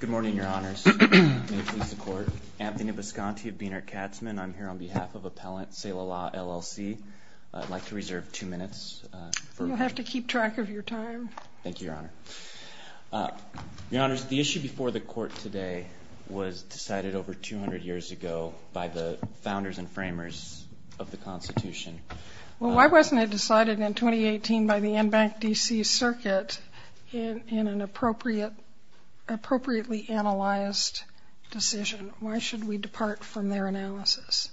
Good morning, Your Honors. Anthony Bisconti of Boehner Katzmann. I'm here on behalf of Appellant Seila Law LLC. I'd like to reserve two minutes. You'll have to keep track of your time. Thank you, Your Honor. Your Honors, the issue before the Court today was decided over 200 years ago by the founders and framers of the Constitution. Well, why wasn't it decided in 2018 by the Enbank D.C. Circuit in an appropriately analyzed decision? Why should we depart from their analysis?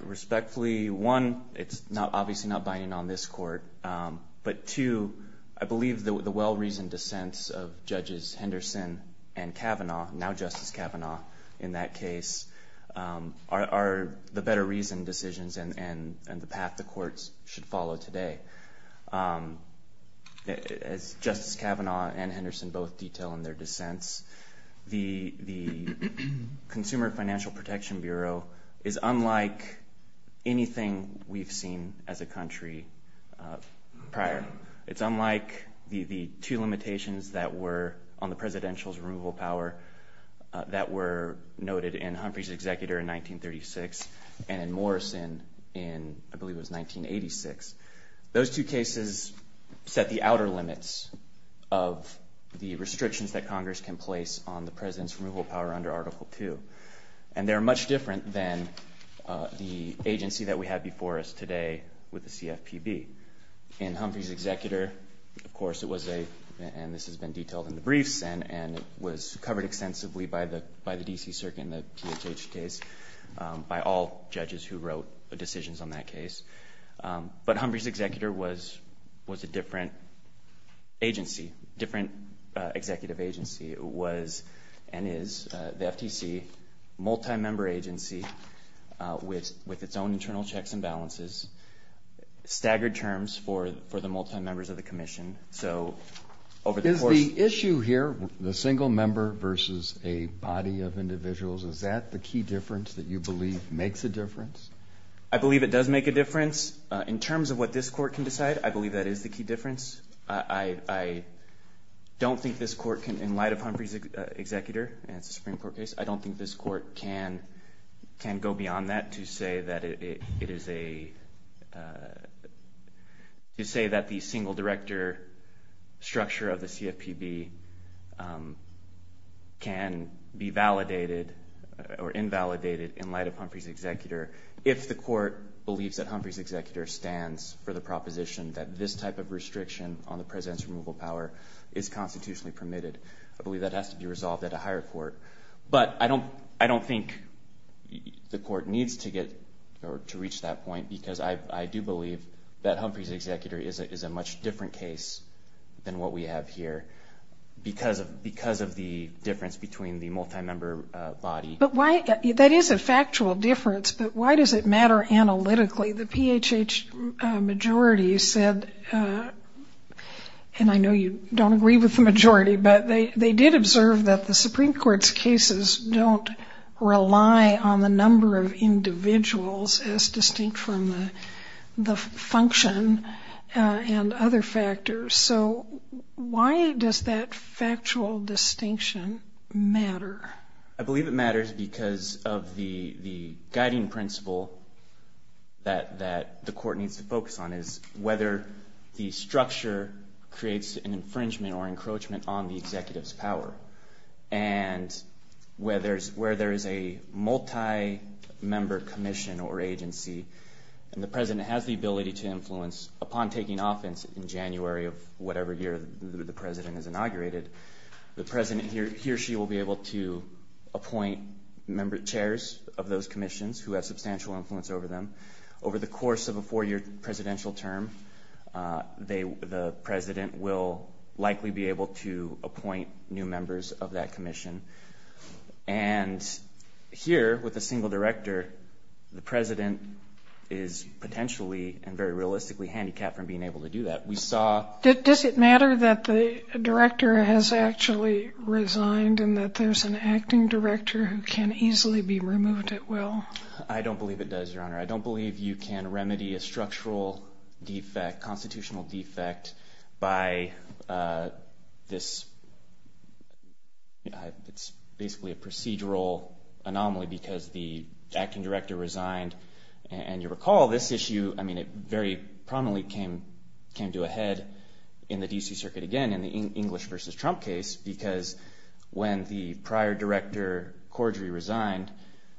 Respectfully, one, it's obviously not binding on this Court, but two, I believe the well-reasoned dissents of Judges Henderson and Kavanaugh, now Justice Kavanaugh in that case, are the better reasoned decisions and the path the Courts should follow today. As Justice Kavanaugh and Henderson both detail in their dissents, the Consumer Financial Protection Bureau is unlike anything we've seen as a country prior. It's unlike the two limitations that were on the Presidential's removal power that were noted in Humphrey's Executor in 1936 and in Morrison in, I believe it was 1986. Those two cases set the outer limits of the restrictions that Congress can place on the President's removal power under Article II. And they're much different than the agency that we have before us today with the CFPB. In Humphrey's Executor, of course, it was a, and this has been detailed in the briefs, and it was covered extensively by the D.C. Circuit in the THH case by all judges who wrote decisions on that case. But Humphrey's Executor was a different agency, different executive agency. It was and is the FTC, a multi-member agency with its own internal checks and balances, staggered terms for the multi-members of the Commission. So over the course— Is the issue here the single member versus a body of individuals, is that the key difference that you believe makes a difference? I believe it does make a difference. In terms of what this Court can decide, I believe that is the key difference. I don't think this Court can, in light of Humphrey's Executor, and it's a Supreme Court case, I don't think this Court can go beyond that to say that it is a, to say that the single director structure of the CFPB can be validated or invalidated in light of Humphrey's Executor, if the Court believes that Humphrey's Executor stands for the proposition that this type of restriction on the President's removal power is constitutionally permitted. I believe that has to be resolved at a higher court. But I don't think the Court needs to get or to reach that point because I do believe that Humphrey's Executor is a much different case than what we have here because of the difference between the multi-member body. But why—that is a factual difference, but why does it matter analytically? The PHH majority said, and I know you don't agree with the majority, but they did observe that the Supreme Court's cases don't rely on the number of individuals as distinct from the function and other factors. So why does that factual distinction matter? I believe it matters because of the guiding principle that the Court needs to focus on, is whether the structure creates an infringement or encroachment on the Executive's power. And where there is a multi-member commission or agency and the President has the ability to influence, upon taking offense in January of whatever year the President is inaugurated, the President, he or she, will be able to appoint chairs of those commissions who have substantial influence over them. Over the course of a four-year presidential term, the President will likely be able to appoint new members of that commission. And here, with a single director, the President is potentially and very realistically handicapped from being able to do that. Does it matter that the director has actually resigned and that there's an acting director who can easily be removed at will? I don't believe it does, Your Honor. I don't believe you can remedy a structural defect, a constitutional defect, by this. It's basically a procedural anomaly because the acting director resigned. And you'll recall this issue, I mean, it very prominently came to a head in the D.C. Circuit again in the English v. Trump case because when the prior director Cordray resigned,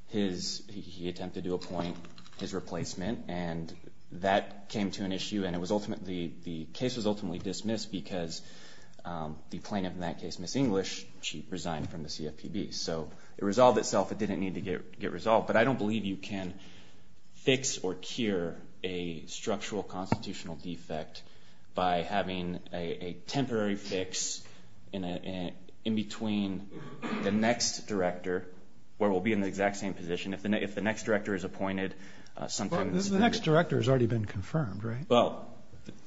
he attempted to appoint his replacement and that came to an issue and the case was ultimately dismissed because the plaintiff in that case, Ms. English, resigned from the CFPB. So it resolved itself. It didn't need to get resolved. But I don't believe you can fix or cure a structural constitutional defect by having a temporary fix in between the next director, where we'll be in the exact same position, if the next director is appointed. The next director has already been confirmed, right? Well,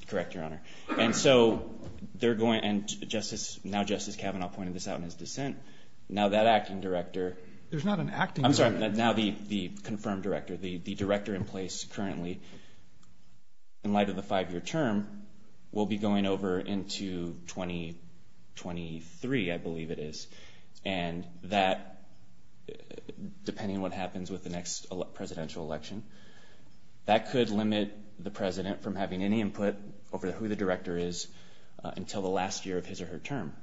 correct, Your Honor. And so they're going – now Justice Kavanaugh pointed this out in his dissent. Now that acting director – There's not an acting director. I'm sorry. Now the confirmed director, the director in place currently, in light of the five-year term, will be going over into 2023, I believe it is. And that, depending on what happens with the next presidential election, that could limit the president from having any input over who the director is until the last year of his or her term.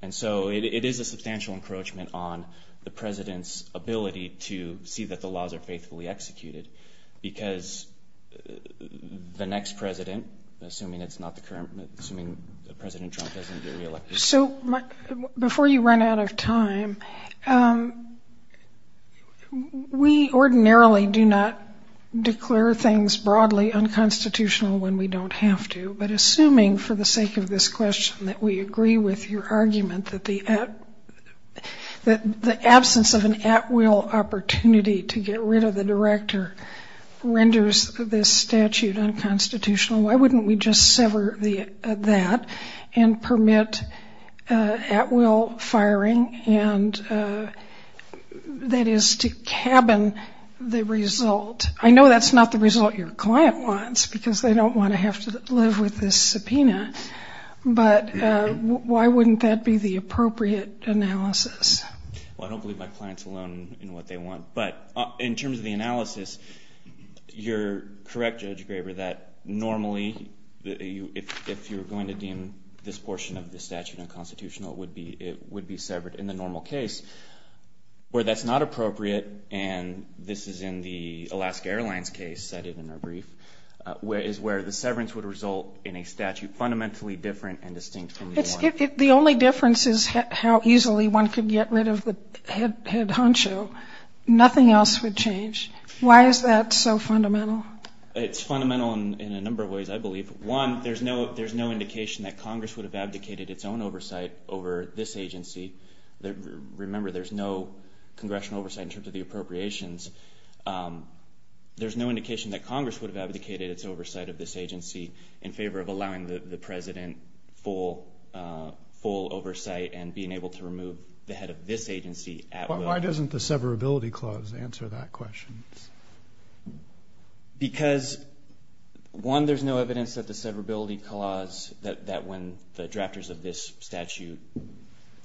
And so it is a substantial encroachment on the president's ability to see that the laws are faithfully executed because the next president, assuming it's not the current – assuming President Trump doesn't get reelected. So before you run out of time, we ordinarily do not declare things broadly unconstitutional when we don't have to. But assuming, for the sake of this question, that we agree with your argument that the absence of an at-will opportunity to get rid of the director renders this statute unconstitutional, why wouldn't we just sever that and permit at-will firing, and that is to cabin the result? I know that's not the result your client wants because they don't want to have to live with this subpoena. But why wouldn't that be the appropriate analysis? Well, I don't believe my clients alone in what they want. But in terms of the analysis, you're correct, Judge Graber, that normally, if you're going to deem this portion of the statute unconstitutional, it would be severed. Where that's not appropriate, and this is in the Alaska Airlines case cited in our brief, is where the severance would result in a statute fundamentally different and distinct from the other. The only difference is how easily one could get rid of the head honcho. Nothing else would change. Why is that so fundamental? One, there's no indication that Congress would have abdicated its own oversight over this agency. Remember, there's no congressional oversight in terms of the appropriations. There's no indication that Congress would have abdicated its oversight of this agency in favor of allowing the president full oversight and being able to remove the head of this agency at will. But why doesn't the severability clause answer that question? Because, one, there's no evidence that the severability clause, that when the drafters of this statute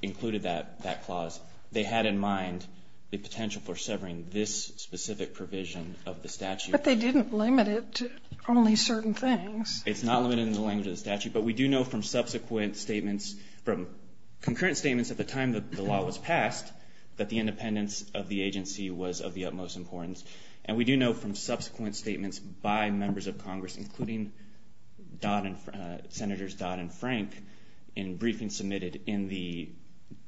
included that clause, they had in mind the potential for severing this specific provision of the statute. But they didn't limit it to only certain things. It's not limited in the language of the statute, but we do know from subsequent statements, from concurrent statements at the time the law was passed, that the independence of the agency was of the utmost importance. And we do know from subsequent statements by members of Congress, including Senators Dodd and Frank in briefings submitted in the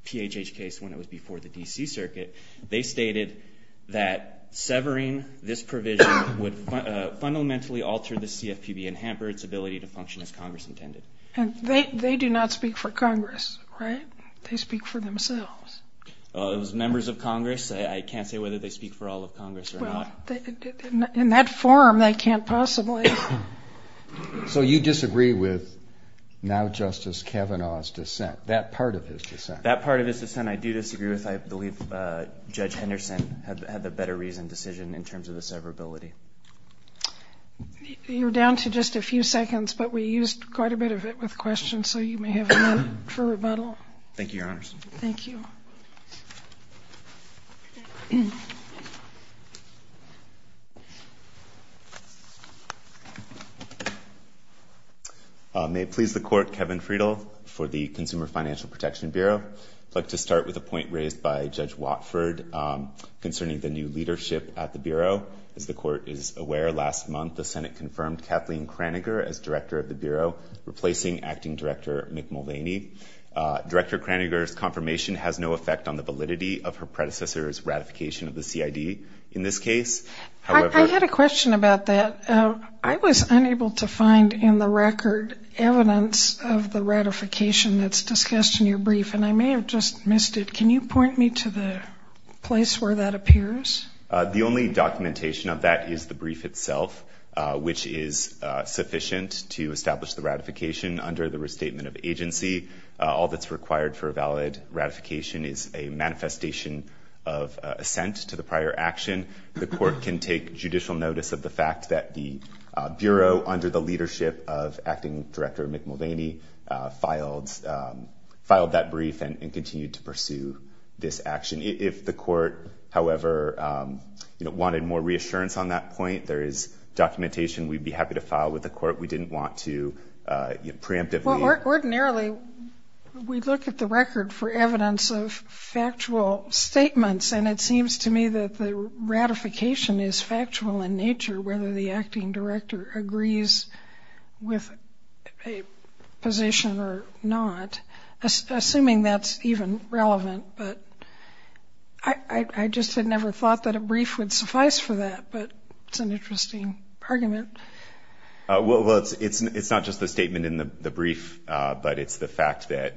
PHH case when it was before the D.C. Circuit, they stated that severing this provision would fundamentally alter the CFPB and hamper its ability to function as Congress intended. And they do not speak for Congress, right? They speak for themselves. Those members of Congress, I can't say whether they speak for all of Congress or not. Well, in that form, they can't possibly. So you disagree with now Justice Kavanaugh's dissent, that part of his dissent? That part of his dissent I do disagree with. I believe Judge Henderson had the better reason decision in terms of the severability. You're down to just a few seconds, but we used quite a bit of it with questions, so you may have one for rebuttal. Thank you, Your Honors. Thank you. May it please the Court, Kevin Friedel for the Consumer Financial Protection Bureau. I'd like to start with a point raised by Judge Watford concerning the new leadership at the Bureau. As the Court is aware, last month the Senate confirmed Kathleen Kraninger as Director of the Bureau, replacing Acting Director Mick Mulvaney. Director Kraninger's confirmation has no effect on the validity of her predecessor's ratification of the CID in this case. I had a question about that. I was unable to find in the record evidence of the ratification that's discussed in your brief, and I may have just missed it. Can you point me to the place where that appears? The only documentation of that is the brief itself, which is sufficient to establish the ratification under the restatement of agency. All that's required for a valid ratification is a manifestation of assent to the prior action. The Court can take judicial notice of the fact that the Bureau, under the leadership of Acting Director Mick Mulvaney, filed that brief and continued to pursue this action. If the Court, however, wanted more reassurance on that point, there is documentation we'd be happy to file with the Court. We didn't want to preemptively. Ordinarily, we look at the record for evidence of factual statements, and it seems to me that the ratification is factual in nature, whether the Acting Director agrees with a position or not, assuming that's even relevant. But I just had never thought that a brief would suffice for that, but it's an interesting argument. Well, it's not just the statement in the brief, but it's the fact that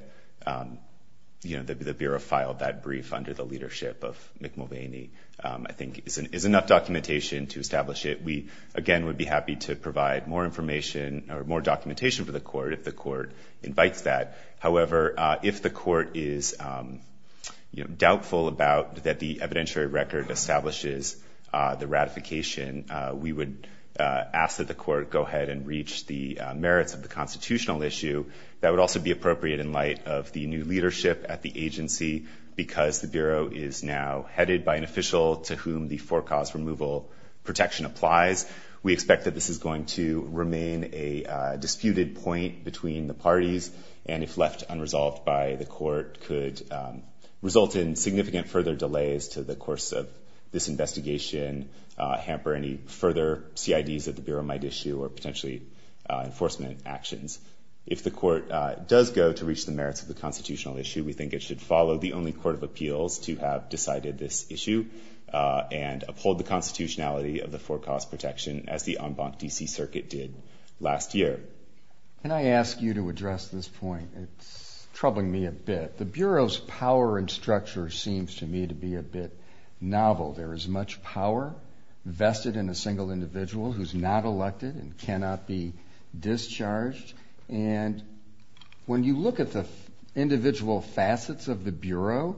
the Bureau filed that brief under the leadership of Mick Mulvaney, I think, is enough documentation to establish it. We, again, would be happy to provide more information or more documentation to the Court if the Court invites that. However, if the Court is doubtful that the evidentiary record establishes the ratification, we would ask that the Court go ahead and reach the merits of the constitutional issue. That would also be appropriate in light of the new leadership at the agency, because the Bureau is now headed by an official to whom the forecast removal protection applies. We expect that this is going to remain a disputed point between the parties. And if left unresolved by the Court, could result in significant further delays to the course of this investigation, hamper any further CIDs that the Bureau might issue or potentially enforcement actions. If the Court does go to reach the merits of the constitutional issue, we think it should follow the only court of appeals to have decided this issue and uphold the constitutionality of the forecast protection as the en banc D.C. Circuit did last year. Can I ask you to address this point? It's troubling me a bit. The Bureau's power and structure seems to me to be a bit novel. There is much power vested in a single individual who is not elected and cannot be discharged. And when you look at the individual facets of the Bureau,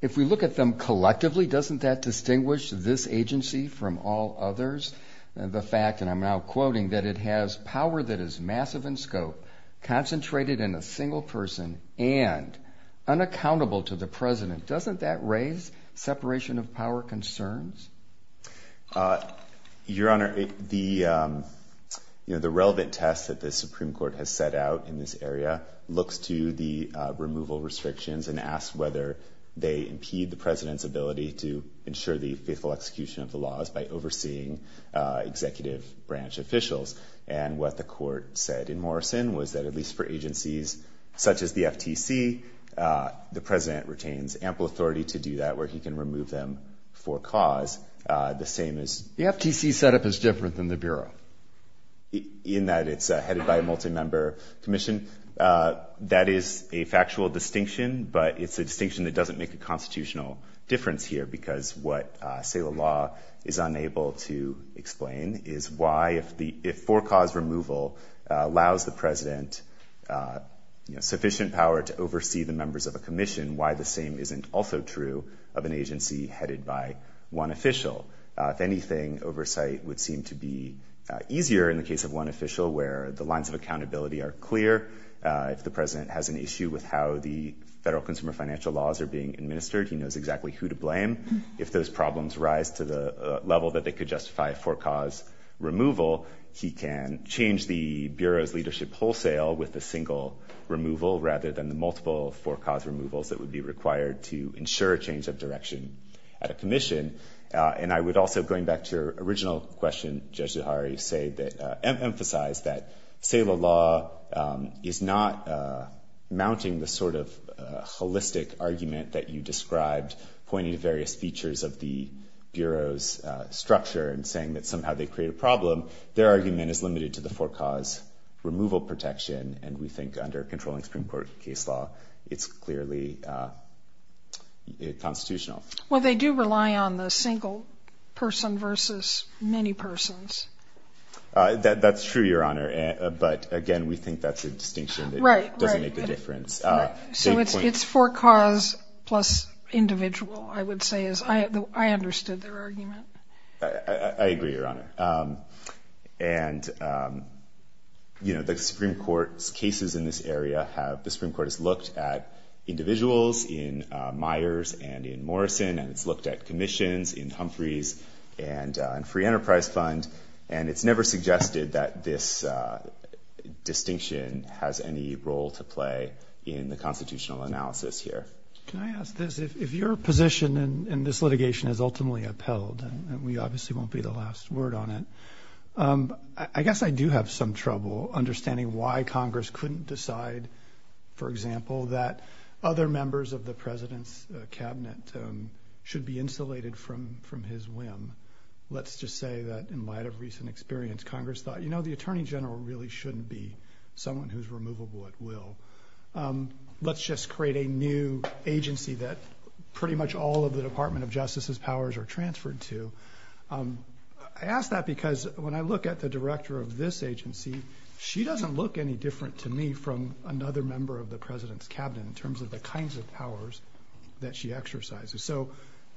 if we look at them collectively, doesn't that distinguish this agency from all others? The fact, and I'm now quoting, that it has power that is massive in scope, concentrated in a single person, and unaccountable to the President. Doesn't that raise separation of power concerns? Your Honor, the relevant test that the Supreme Court has set out in this area looks to the removal restrictions and asks whether they impede the President's ability to ensure the faithful execution of the laws by overseeing executive branch officials. And what the Court said in Morrison was that at least for agencies such as the FTC, the President retains ample authority to do that where he can remove them for cause. The same as the FTC set up is different than the Bureau. In that it's headed by a multi-member commission. That is a factual distinction, but it's a distinction that doesn't make a constitutional difference here because what SALA law is unable to explain is why, if for-cause removal allows the President sufficient power to oversee the members of a commission, why the same isn't also true of an agency headed by one official. If anything, oversight would seem to be easier in the case of one official where the lines of accountability are clear. If the President has an issue with how the federal consumer financial laws are being administered, he knows exactly who to blame. If those problems rise to the level that they could justify for-cause removal, he can change the Bureau's leadership wholesale with a single removal rather than the multiple for-cause removals that would be required to ensure a change of direction at a commission. And I would also, going back to your original question, Judge Zuhairi, emphasize that SALA law is not mounting the sort of holistic argument that you described pointing to various features of the Bureau's structure and saying that somehow they create a problem. Their argument is limited to the for-cause removal protection, and we think under controlling Supreme Court case law, it's clearly constitutional. Well, they do rely on the single person versus many persons. That's true, Your Honor, but again, we think that's a distinction that doesn't make a difference. So it's for-cause plus individual, I would say, as I understood their argument. I agree, Your Honor. And, you know, the Supreme Court's cases in this area have-the Supreme Court has looked at individuals in Myers and in Morrison, and it's looked at commissions in Humphreys and Free Enterprise Fund, and it's never suggested that this distinction has any role to play in the constitutional analysis here. Can I ask this? If your position in this litigation is ultimately upheld, and we obviously won't be the last word on it, I guess I do have some trouble understanding why Congress couldn't decide, for example, that other members of the President's Cabinet should be insulated from his whim. Let's just say that in light of recent experience, Congress thought, you know, the Attorney General really shouldn't be someone who's removable at will. Let's just create a new agency that pretty much all of the Department of Justice's powers are transferred to. I ask that because when I look at the director of this agency, she doesn't look any different to me from another member of the President's Cabinet in terms of the kinds of powers that she exercises. So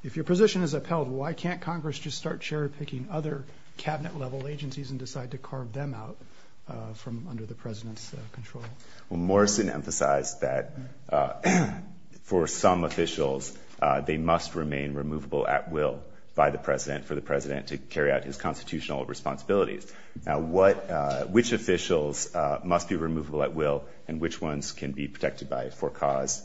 if your position is upheld, why can't Congress just start cherry-picking other Cabinet-level agencies and decide to carve them out from under the President's control? Well, Morrison emphasized that for some officials, they must remain removable at will by the President, for the President to carry out his constitutional responsibilities. Now, which officials must be removable at will, and which ones can be protected by a for-cause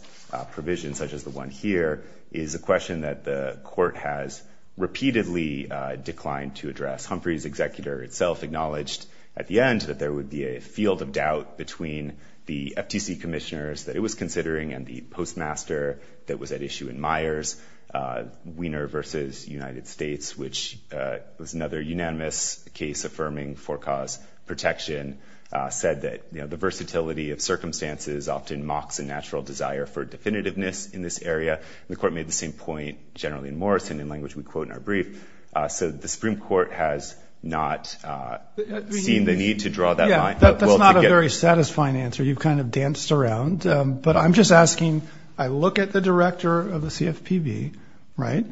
provision such as the one here, is a question that the Court has repeatedly declined to address. Humphreys' executor itself acknowledged at the end that there would be a field of doubt between the FTC commissioners that it was considering and the postmaster that was at issue in Myers' Wiener v. United States, which was another unanimous case affirming for-cause protection, said that, you know, the versatility of circumstances often mocks a natural desire for definitiveness in this area. The Court made the same point generally in Morrison, in language we quote in our brief. So the Supreme Court has not seen the need to draw that line. Yeah, that's not a very satisfying answer. You've kind of danced around. But I'm just asking, I look at the director of the CFPB, right?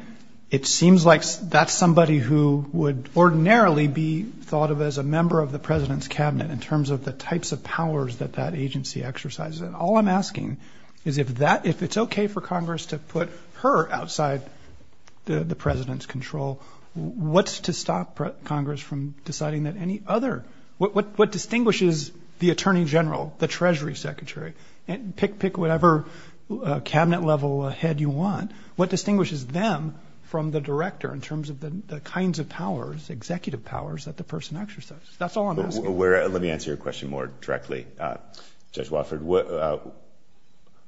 It seems like that's somebody who would ordinarily be thought of as a member of the President's Cabinet in terms of the types of powers that that agency exercises. And all I'm asking is if that-if it's okay for Congress to put her outside the President's control, what's to stop Congress from deciding that any other-what distinguishes the Attorney General, the Treasury Secretary, pick whatever Cabinet level head you want, what distinguishes them from the director in terms of the kinds of powers, executive powers, that the person exercises? That's all I'm asking. Let me answer your question more directly, Judge Wofford.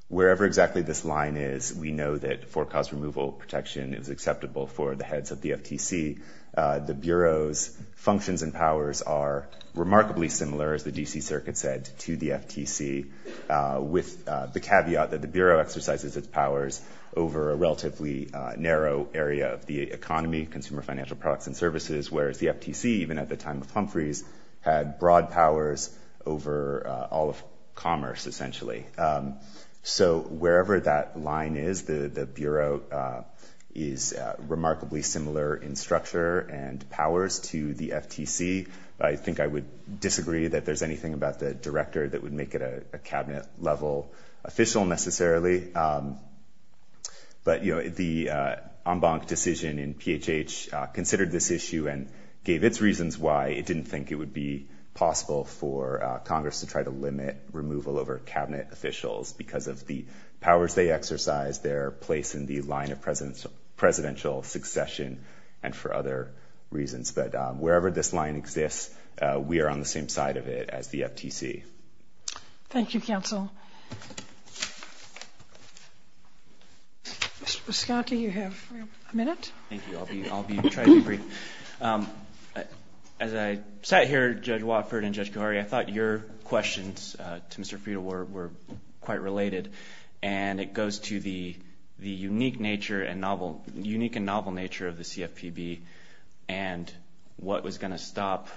Wherever exactly this line is, we know that forecast removal protection is acceptable for the heads of the FTC. The Bureau's functions and powers are remarkably similar, as the D.C. Circuit said, to the FTC, with the caveat that the Bureau exercises its powers over a relatively narrow area of the economy, consumer financial products and services, whereas the FTC, even at the time of Humphreys, had broad powers over all of commerce, essentially. So wherever that line is, the Bureau is remarkably similar in structure and powers to the FTC. I think I would disagree that there's anything about the director that would make it a Cabinet-level official necessarily. But, you know, the en banc decision in PHH considered this issue and gave its reasons why it didn't think it would be possible for Congress to try to limit removal over Cabinet officials because of the powers they exercise, their place in the line of presidential succession, and for other reasons. But wherever this line exists, we are on the same side of it as the FTC. Thank you, Counsel. Mr. Biscotti, you have a minute. Thank you. I'll try to be brief. As I sat here, Judge Watford and Judge Khoury, I thought your questions to Mr. Friedel were quite related, and it goes to the unique and novel nature of the CFPB and what was going to stop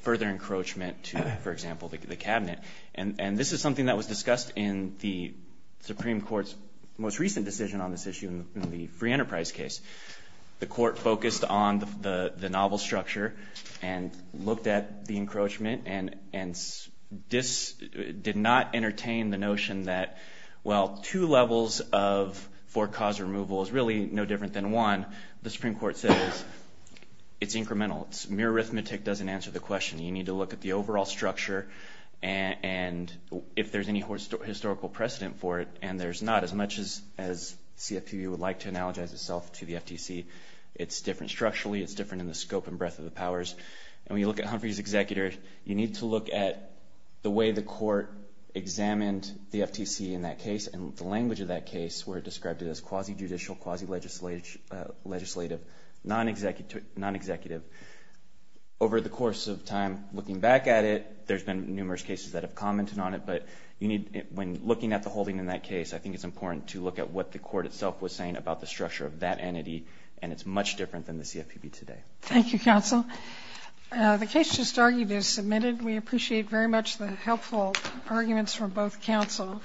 further encroachment to, for example, the Cabinet. And this is something that was discussed in the Supreme Court's most recent decision on this issue in the Free Enterprise case. The Court focused on the novel structure and looked at the encroachment and did not entertain the notion that, well, two levels of for-cause removal is really no different than one. The Supreme Court says it's incremental. It's mere arithmetic doesn't answer the question. You need to look at the overall structure and if there's any historical precedent for it, and there's not as much as CFPB would like to analogize itself to the FTC. It's different structurally. It's different in the scope and breadth of the powers. And when you look at Humphrey's executors, you need to look at the way the Court examined the FTC in that case and the language of that case where it described it as quasi-judicial, quasi-legislative, non-executive. Over the course of time, looking back at it, there's been numerous cases that have commented on it, but when looking at the holding in that case, I think it's important to look at what the Court itself was saying about the structure of that entity, and it's much different than the CFPB today. Thank you, Counsel. The case just argued is submitted. We appreciate very much the helpful arguments from both counsel.